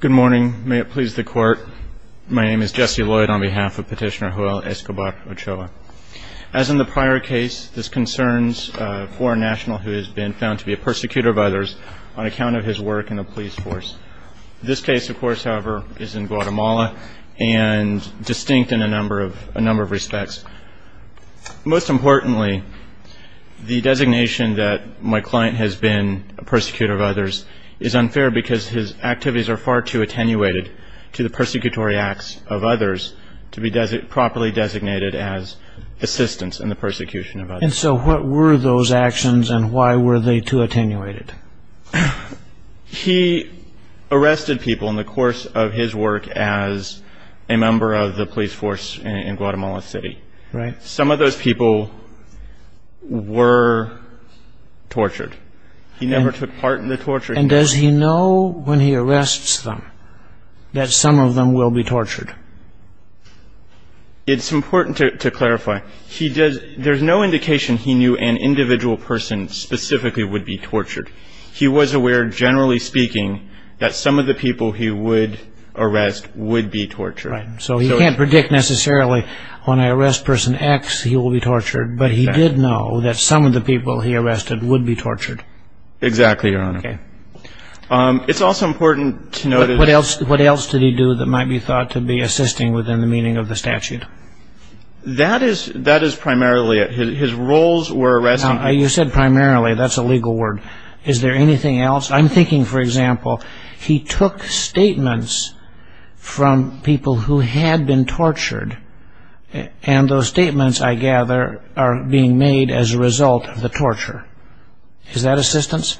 Good morning. May it please the court. My name is Jesse Lloyd on behalf of Petitioner Joel Escobar Ochoa. As in the prior case, this concerns a foreign national who has been found to be a persecutor of others on account of his work in the police force. This case, of course, however, is in Guatemala and distinct in a number of respects. Most importantly, the designation that his activities are far too attenuated to the persecutory acts of others to be properly designated as assistants in the persecution of others. And so what were those actions and why were they too attenuated? He arrested people in the course of his work as a member of the police force in Guatemala City. Some of those people were tortured. He never took part in the torture. And does he know when he arrests them that some of them will be tortured? It's important to clarify. There's no indication he knew an individual person specifically would be tortured. He was aware, generally speaking, that some of the people he would arrest would be tortured. So he can't predict necessarily, when I arrest person X, he will be tortured. But he did know that some of the people he arrested would be tortured. Exactly, Your Honor. Okay. It's also important to note that What else did he do that might be thought to be assisting within the meaning of the statute? That is primarily it. His roles were arresting people Now, you said primarily. That's a legal word. Is there anything else? I'm thinking, for example, he took statements from people who had been tortured. And those statements, I gather, are being made as a result of the torture. Is that assistance?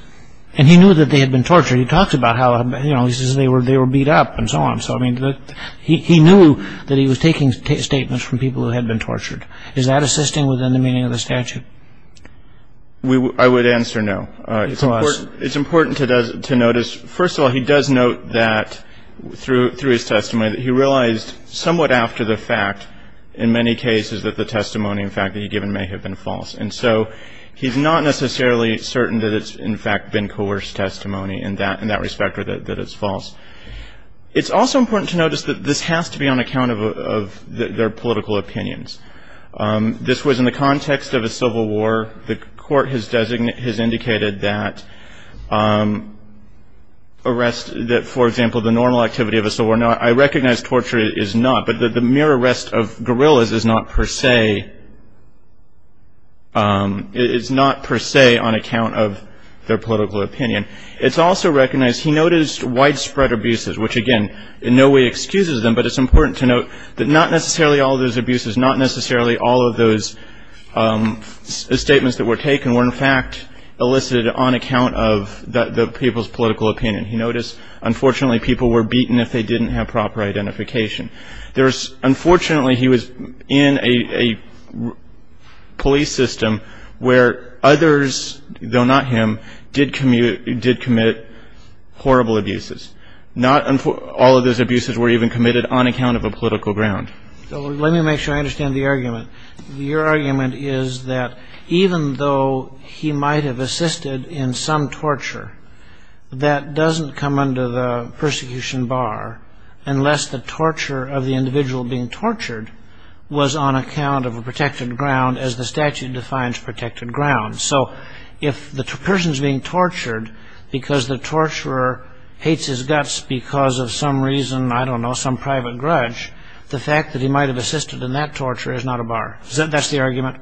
And he knew that they had been tortured. He talked about how they were beat up and so on. He knew that he was taking statements from people who had been tortured. Is that assisting within the meaning of the statute? I would answer no. It's important to notice. First of all, he does note that, through his testimony, that he realized somewhat after the fact, in many cases, that the testimony, in fact, that he had given may have been false. And so he's not necessarily certain that it's, in fact, been coerced testimony in that respect or that it's false. It's also important to notice that this has to be on account of their political opinions. This was in the context of a civil war. The court has indicated that, for example, the normal activity of a civil war, I recognize torture is not, but the mere arrest of guerrillas is not per se on account of their political opinion. It's also recognized he noticed widespread abuses, which, again, in no way excuses them. But it's important to note that not necessarily all of those abuses, not necessarily all of those statements that were taken were, in fact, elicited on account of the people's political opinion. He noticed, unfortunately, people were beaten if they didn't have proper identification. Unfortunately, he was in a police system where others, though not him, did commit horrible abuses. All of those abuses were even committed on account of a political ground. Let me make sure I understand the argument. Your argument is that even though he might have assisted in some torture, that doesn't come under the persecution bar unless the torture of the individual being tortured was on account of a protected ground, as the statute defines protected ground. So if the person's being tortured because the torturer hates his guts because of some reason, I don't know, some private grudge, the fact that he might have assisted in that torture is not a bar. That's the argument?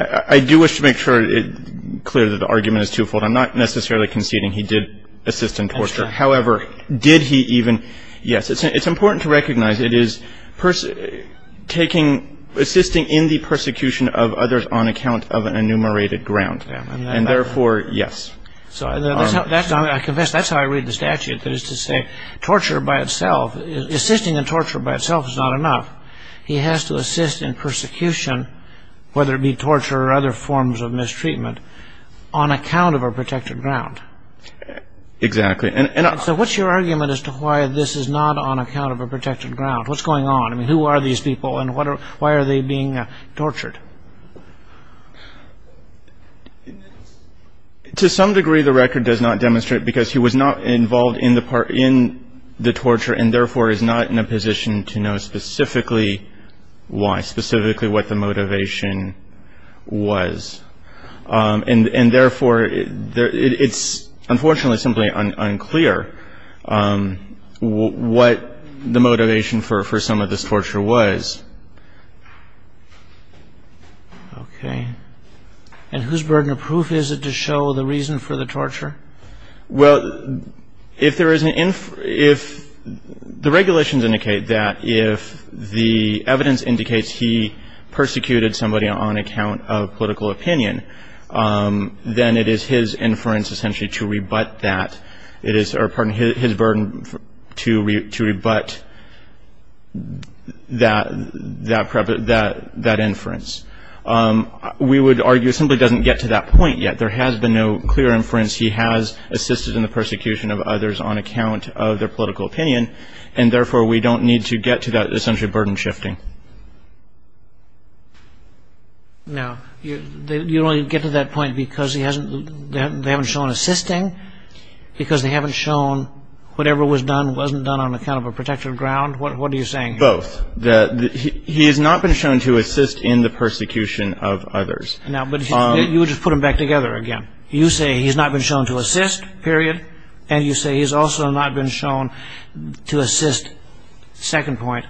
I do wish to make sure it's clear that the argument is twofold. I'm not necessarily conceding he did assist in torture. However, did he even? Yes, it's important to recognize it is assisting in the persecution of others on account of an enumerated ground. And therefore, yes. I confess that's how I read the statute, that is to say, torture by itself, assisting in torture by itself is not enough. He has to assist in persecution, whether it be torture or other forms of mistreatment, on account of a protected ground. Exactly. So what's your argument as to why this is not on account of a protected ground? What's going on? I mean, who are these people and why are they being tortured? To some degree, the record does not demonstrate because he was not involved in the torture and therefore is not in a position to know specifically why, specifically what the motivation was. And therefore, it's unfortunately simply unclear what the motivation for some of this torture was. Okay. And whose burden of proof is it to show the reason for the torture? Well, if there is an – if the regulations indicate that if the evidence indicates he persecuted somebody on account of political opinion, then it is his inference essentially to rebut that. It is – or, pardon me, his burden to rebut that – that inference. We would argue it simply doesn't get to that point yet. There has been no clear inference he has assisted in the persecution of others on account of their political opinion. And therefore, we don't need to get to that essentially burden shifting. Now, you only get to that point because he hasn't – they haven't shown assisting, because they haven't shown whatever was done wasn't done on account of a protected ground? What are you saying here? Both. He has not been shown to assist in the persecution of others. Now, but you would just put them back together again. You say he's not been shown to assist, period, and you say he's also not been shown to assist, second point,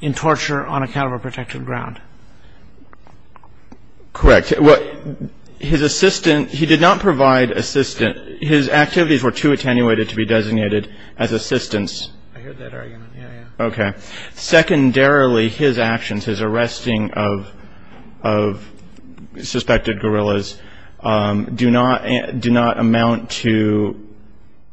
in torture on account of a protected ground. Correct. Well, his assistant – he did not provide assistant – his activities were too attenuated to be designated as assistants. I heard that argument. Yeah, yeah. Okay. Secondarily, his actions, his arresting of suspected guerrillas, do not amount to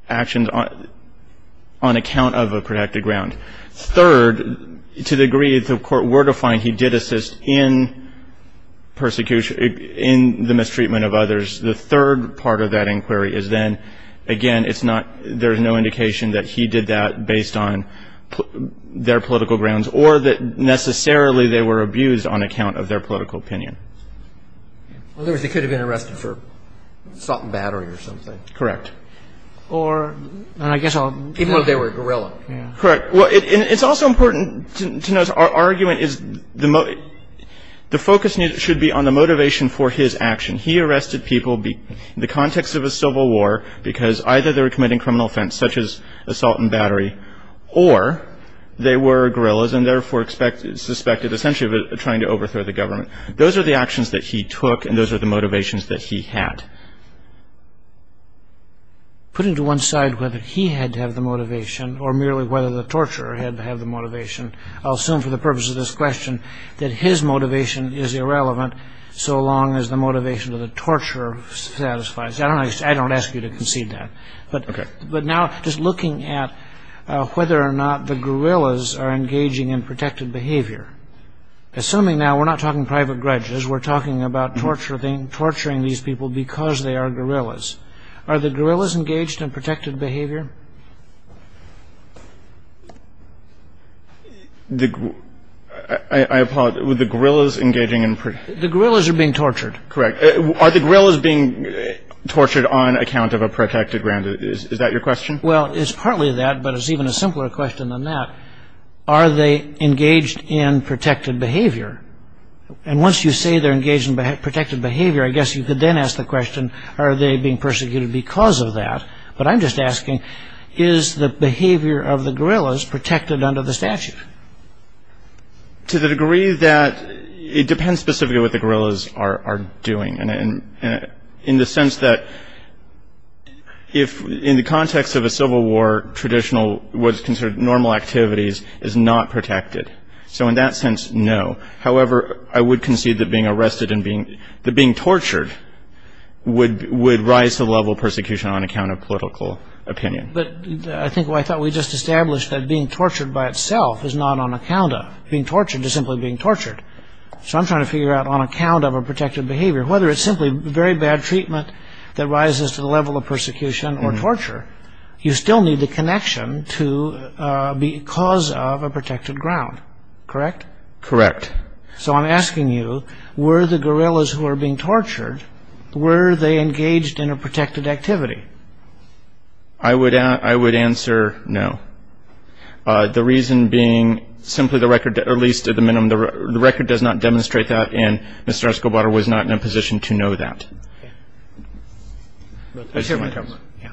actions on account of a protected ground. Third, to the degree the court were to find he did assist in the mistreatment of others, the third part of that inquiry is then, again, it's not – there's no indication that he did that based on their political grounds or that necessarily they were abused on account of their political opinion. In other words, they could have been arrested for salt and battery or something. Correct. Or – and I guess I'll – even though they were guerrilla. Correct. Well, it's also important to note our argument is the focus should be on the motivation for his action. He arrested people in the context of a civil war because either they were committing criminal offense such as assault and battery or they were guerrillas and therefore suspected, essentially, of trying to overthrow the government. Those are the actions that he took and those are the motivations that he had. Putting to one side whether he had to have the motivation or merely whether the torturer had to have the motivation, I'll assume for the purpose of this question that his motivation is irrelevant so long as the motivation of the torturer satisfies. I don't ask you to concede that. Okay. But now just looking at whether or not the guerrillas are engaging in protected behavior. Assuming now we're not talking private grudges, we're talking about torturing these people because they are guerrillas. Are the guerrillas engaged in protected behavior? I apologize. Were the guerrillas engaging in protected behavior? The guerrillas are being tortured. Correct. Are the guerrillas being tortured on account of a protected ground? Is that your question? Well, it's partly that, but it's even a simpler question than that. Are they engaged in protected behavior? And once you say they're engaged in protected behavior, I guess you could then ask the question are they being persecuted because of that? But I'm just asking is the behavior of the guerrillas protected under the statute? To the degree that it depends specifically what the guerrillas are doing. And in the sense that if in the context of a civil war, traditional what's considered normal activities is not protected. So in that sense, no. However, I would concede that being arrested and being tortured would rise to the level of persecution on account of political opinion. But I think what I thought we just established that being tortured by itself is not on account of being tortured. It's simply being tortured. So I'm trying to figure out on account of a protected behavior, whether it's simply very bad treatment that rises to the level of persecution or torture, you still need the connection to because of a protected ground. Correct? Correct. So I'm asking you, were the guerrillas who were being tortured, were they engaged in a protected activity? I would answer no. The reason being simply the record, at least at the minimum, the record does not demonstrate that and Mr. Escobar was not in a position to know that. Let's hear from the government. Yeah.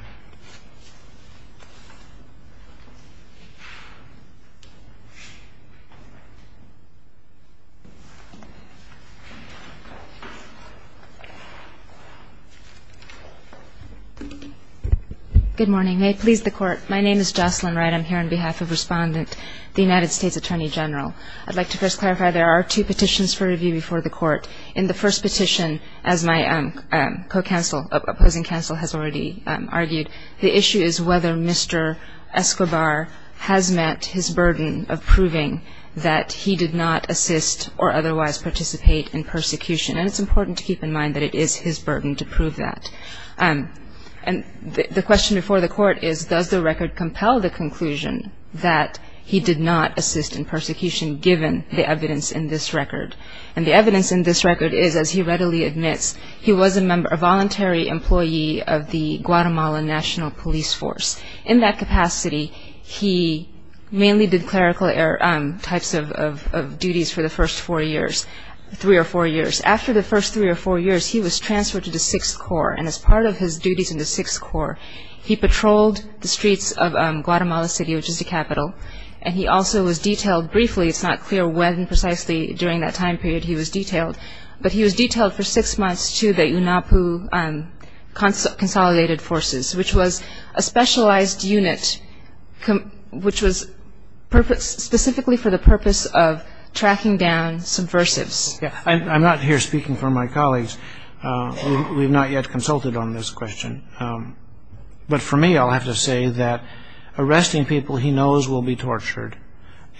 Good morning. May it please the Court. My name is Jocelyn Wright. I'm here on behalf of Respondent, the United States Attorney General. I'd like to first clarify there are two petitions for review before the Court. In the first petition, as my co-counsel, opposing counsel has already argued, the issue is whether Mr. Escobar has met his burden of proving that he did not assist or otherwise participate in persecution. And it's important to keep in mind that it is his burden to prove that. And the question before the Court is, does the record compel the conclusion that he did not assist in persecution, given the evidence in this record? And the evidence in this record is, as he readily admits, he was a voluntary employee of the Guatemala National Police Force. In that capacity, he mainly did clerical types of duties for the first four years, three or four years. After the first three or four years, he was transferred to the Sixth Corps. And as part of his duties in the Sixth Corps, he patrolled the streets of Guatemala City, which is the capital, and he also was detailed briefly, it's not clear when precisely during that time period he was detailed, but he was detailed for six months to the UNAPU Consolidated Forces, which was a specialized unit which was specifically for the purpose of tracking down subversives. I'm not here speaking for my colleagues. We've not yet consulted on this question. But for me, I'll have to say that arresting people he knows will be tortured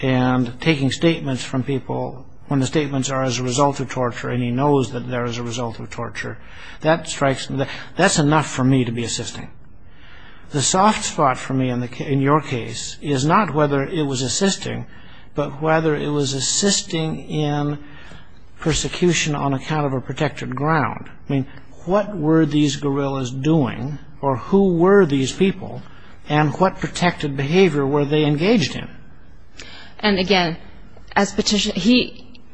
and taking statements from people when the statements are as a result of torture and he knows that they're as a result of torture, that's enough for me to be assisting. The soft spot for me in your case is not whether it was assisting, but whether it was assisting in persecution on account of a protected ground. I mean, what were these guerrillas doing, or who were these people, and what protected behavior were they engaged in? And again, at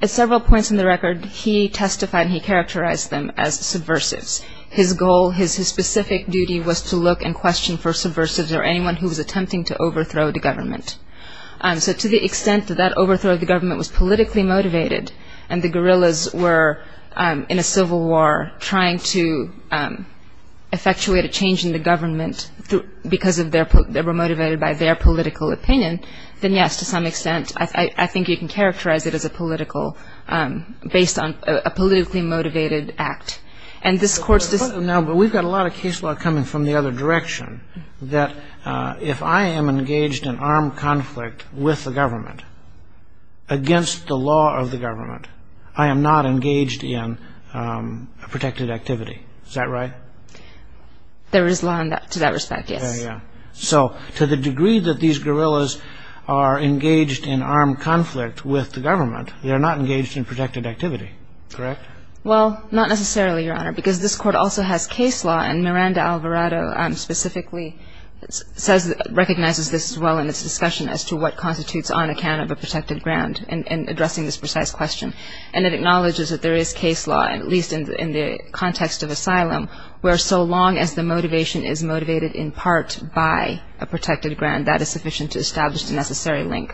several points in the record, he testified and he characterized them as subversives. His goal, his specific duty was to look and question for subversives or anyone who was attempting to overthrow the government. So to the extent that that overthrow of the government was politically motivated and the guerrillas were in a civil war trying to effectuate a change in the government because they were motivated by their political opinion, then yes, to some extent I think you can characterize it as a politically motivated act. But we've got a lot of case law coming from the other direction that if I am engaged in armed conflict with the government, against the law of the government, I am not engaged in protected activity. Is that right? There is law to that respect, yes. So to the degree that these guerrillas are engaged in armed conflict with the government, they are not engaged in protected activity, correct? Well, not necessarily, Your Honor, because this Court also has case law, and Miranda Alvarado specifically recognizes this as well in its discussion as to what constitutes on account of a protected ground in addressing this precise question. And it acknowledges that there is case law, at least in the context of asylum, where so long as the motivation is motivated in part by a protected ground, that is sufficient to establish the necessary link.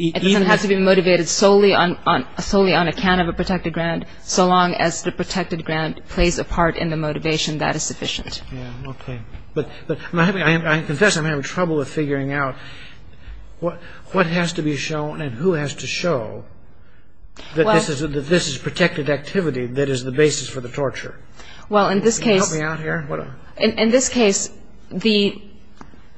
It doesn't have to be motivated solely on account of a protected ground. So long as the protected ground plays a part in the motivation, that is sufficient. Yeah, okay. But I confess I'm having trouble with figuring out what has to be shown and who has to show. Well. That this is protected activity that is the basis for the torture. Well, in this case. Can you help me out here? In this case, the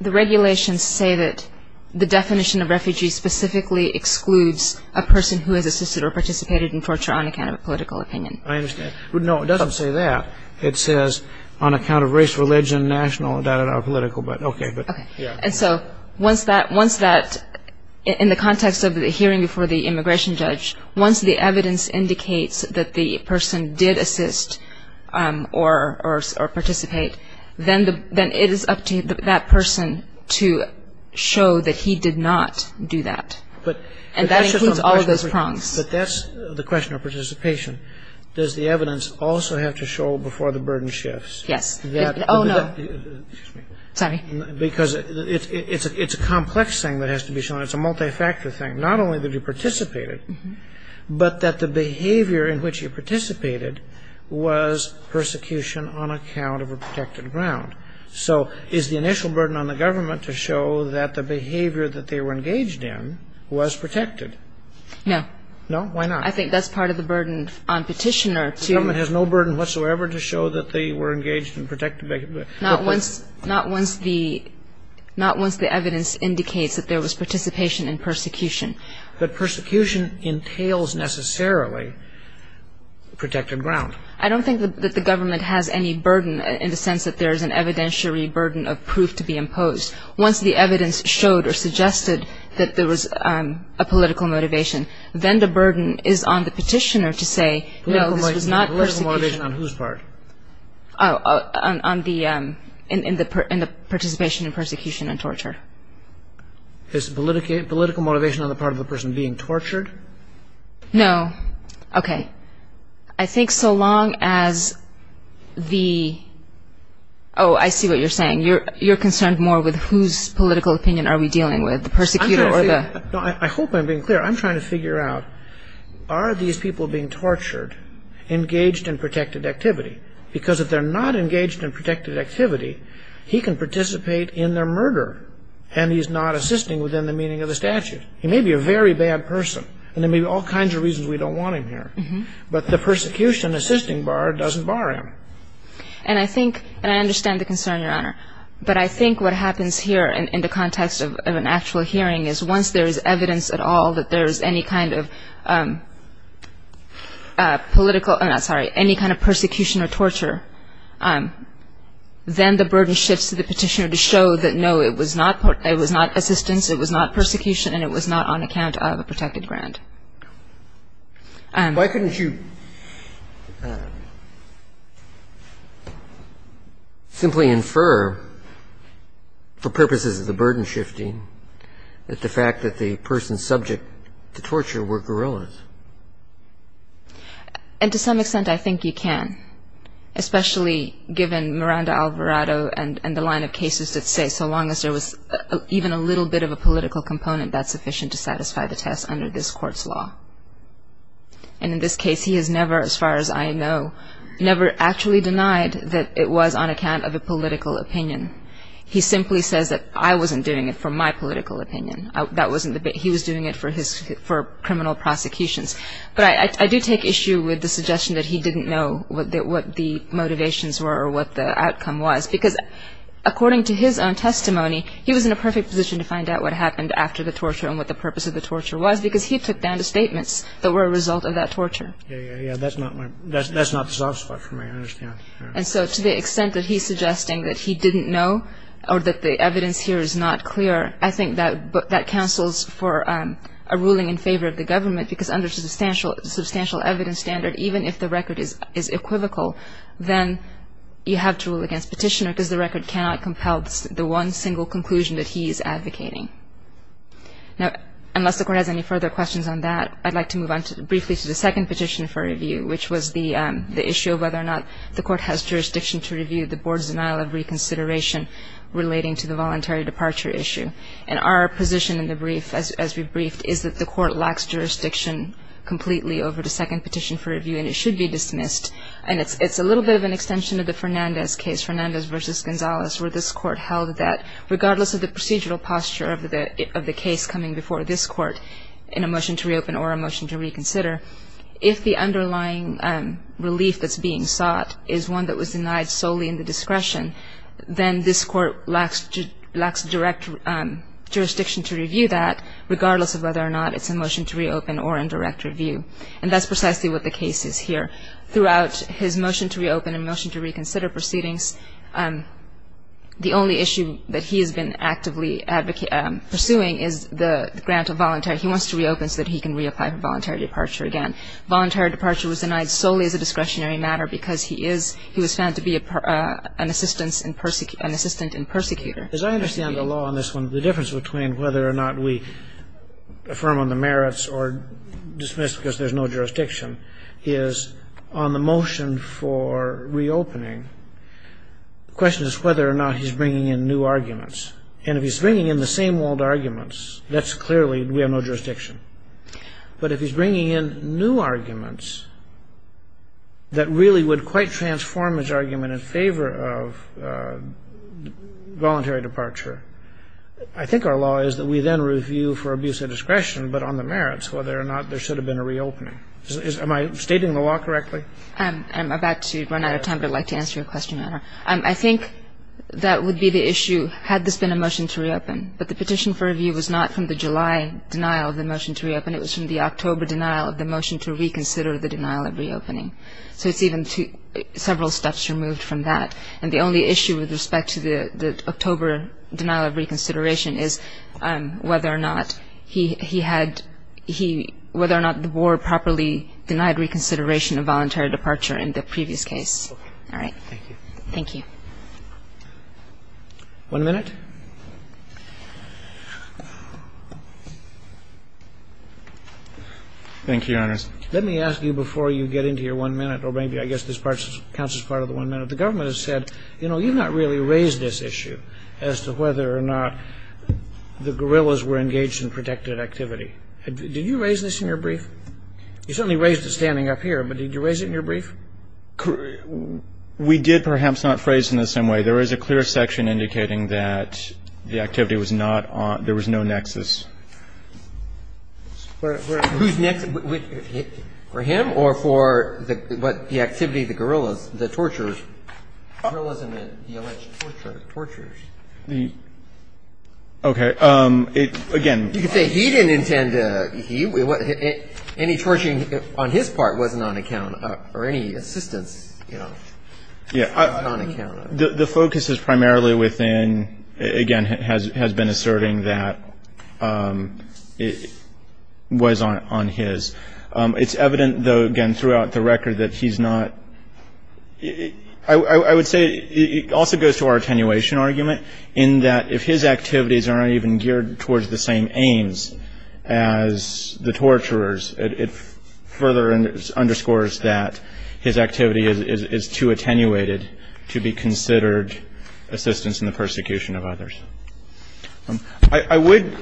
regulations say that the definition of refugee specifically excludes a person who has assisted or participated in torture on account of a political opinion. I understand. No, it doesn't say that. It says on account of race, religion, national, political, but okay. Okay. And so once that, in the context of the hearing before the immigration judge, once the evidence indicates that the person did assist or participate, then it is up to that person to show that he did not do that. And that includes all of those prongs. But that's the question of participation. Does the evidence also have to show before the burden shifts? Yes. Oh, no. Excuse me. Sorry. Because it's a complex thing that has to be shown. It's a multi-factor thing. Not only did you participate, but that the behavior in which you participated was persecution on account of a protected ground. So is the initial burden on the government to show that the behavior that they were engaged in was protected? No. No? Why not? I think that's part of the burden on petitioner to... The government has no burden whatsoever to show that they were engaged in protected... Not once the evidence indicates that there was participation in persecution. But persecution entails necessarily protected ground. I don't think that the government has any burden in the sense that there is an evidentiary burden of proof to be imposed. Once the evidence showed or suggested that there was a political motivation, then the burden is on the petitioner to say, no, this was not persecution. Political motivation on whose part? On the participation in persecution and torture. Is political motivation on the part of the person being tortured? No. Okay. I think so long as the... Oh, I see what you're saying. You're concerned more with whose political opinion are we dealing with, the persecutor or the... I hope I'm being clear. I'm trying to figure out, are these people being tortured engaged in protected activity? Because if they're not engaged in protected activity, he can participate in their murder and he's not assisting within the meaning of the statute. He may be a very bad person and there may be all kinds of reasons we don't want him here. But the persecution assisting bar doesn't bar him. And I think, and I understand the concern, Your Honor. But I think what happens here in the context of an actual hearing is once there is evidence at all that there is any kind of political, I'm sorry, any kind of persecution or torture, then the burden shifts to the petitioner to show that, no, it was not assistance, it was not persecution, and it was not on account of a protected grant. Why couldn't you simply infer for purposes of the burden shifting that the fact that the person subject to torture were guerrillas? And to some extent I think you can, especially given Miranda Alvarado and the line of cases that say so long as there was even a little bit of a political component, that's sufficient to satisfy the test under this Court's law. And in this case, he has never, as far as I know, never actually denied that it was on account of a political opinion. He simply says that I wasn't doing it for my political opinion. He was doing it for criminal prosecutions. But I do take issue with the suggestion that he didn't know what the motivations were or what the outcome was, because according to his own testimony, he was in a perfect position to find out what happened after the torture and what the purpose of the torture was, because he took down the statements that were a result of that torture. Yeah, yeah, yeah. That's not the soft spot for me, I understand. And so to the extent that he's suggesting that he didn't know or that the evidence here is not clear, I think that cancels for a ruling in favor of the government, because under the substantial evidence standard, even if the record is equivocal, then you have to rule against Petitioner, because the record cannot compel the one single conclusion that he is advocating. Now, unless the Court has any further questions on that, I'd like to move on briefly to the second petition for review, which was the issue of whether or not the Court has jurisdiction to review the Board's denial of reconsideration relating to the voluntary departure issue. And our position in the brief, as we briefed, is that the Court lacks jurisdiction completely over the second petition for review, and it should be dismissed. And it's a little bit of an extension of the Fernandez case, Fernandez v. Gonzalez, where this Court held that regardless of the procedural posture of the case coming before this Court in a motion to reopen or a motion to reconsider, if the underlying relief that's being sought is one that was denied solely in the discretion, then this Court lacks direct jurisdiction to review that, regardless of whether or not it's a motion to reopen or in direct review. And that's precisely what the case is here. Throughout his motion to reopen and motion to reconsider proceedings, the only issue that he has been actively pursuing is the grant of voluntary. He wants to reopen so that he can reapply for voluntary departure again. Voluntary departure was denied solely as a discretionary matter because he is, he was found to be an assistant in persecutor. As I understand the law on this one, the difference between whether or not we affirm on the merits or dismiss because there's no jurisdiction is on the motion for reopening, the question is whether or not he's bringing in new arguments. And if he's bringing in the same old arguments, that's clearly, we have no jurisdiction. But if he's bringing in new arguments that really would quite transform his argument in favor of voluntary departure, I think our law is that we then review for abuse of discretion, but on the merits, whether or not there should have been a reopening. Am I stating the law correctly? I'm about to run out of time, but I'd like to answer your question, Your Honor. I think that would be the issue had this been a motion to reopen. But the petition for review was not from the July denial of the motion to reopen. It was from the October denial of the motion to reconsider the denial of reopening. So it's even several steps removed from that. And the only issue with respect to the October denial of reconsideration is whether or not he had, whether or not the Board properly denied reconsideration of voluntary departure in the previous case. All right. Thank you. One minute. Thank you, Your Honors. Let me ask you before you get into your one minute, or maybe I guess this part counts as part of the one minute. The government has said, you know, you've not really raised this issue as to whether or not the guerrillas were engaged in protected activity. Did you raise this in your brief? You certainly raised it standing up here, but did you raise it in your brief? We did perhaps not phrase it in the same way. There is a clear section indicating that the activity was not on, there was no nexus. Whose nexus? For him or for the activity of the guerrillas, the torturers? Guerrillas and the alleged torturers. Okay. Again. You could say he didn't intend to, he, any torturing on his part wasn't on account or any assistance, you know, was not on account of. The focus is primarily within, again, has been asserting that it was on his. It's evident, though, again, throughout the record that he's not, I would say it also goes to our attenuation argument in that if his activities are not even geared towards the same aims as the torturers, it further underscores that his activity is too attenuated to be considered assistance in the persecution of others. I would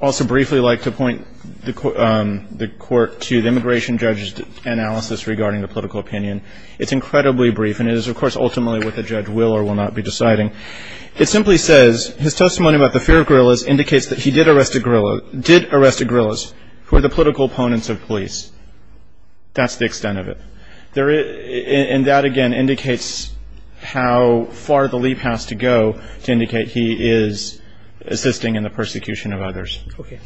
also briefly like to point the court to the immigration judge's analysis regarding the political opinion. It's incredibly brief, and it is, of course, ultimately what the judge will or will not be deciding. It simply says his testimony about the fear of guerrillas indicates that he did arrest a guerrilla, did arrest a guerrillas who are the political opponents of police. That's the extent of it. And that, again, indicates how far the leap has to go to indicate he is assisting in the persecution of others. Okay.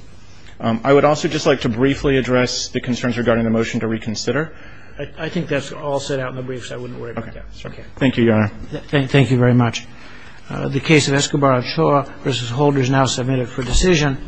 I would also just like to briefly address the concerns regarding the motion to reconsider. I think that's all set out in the brief, so I wouldn't worry about that. Okay. Thank you, Your Honor. Thank you very much. The case of Escobar-Ochoa v. Holder is now submitted for decision.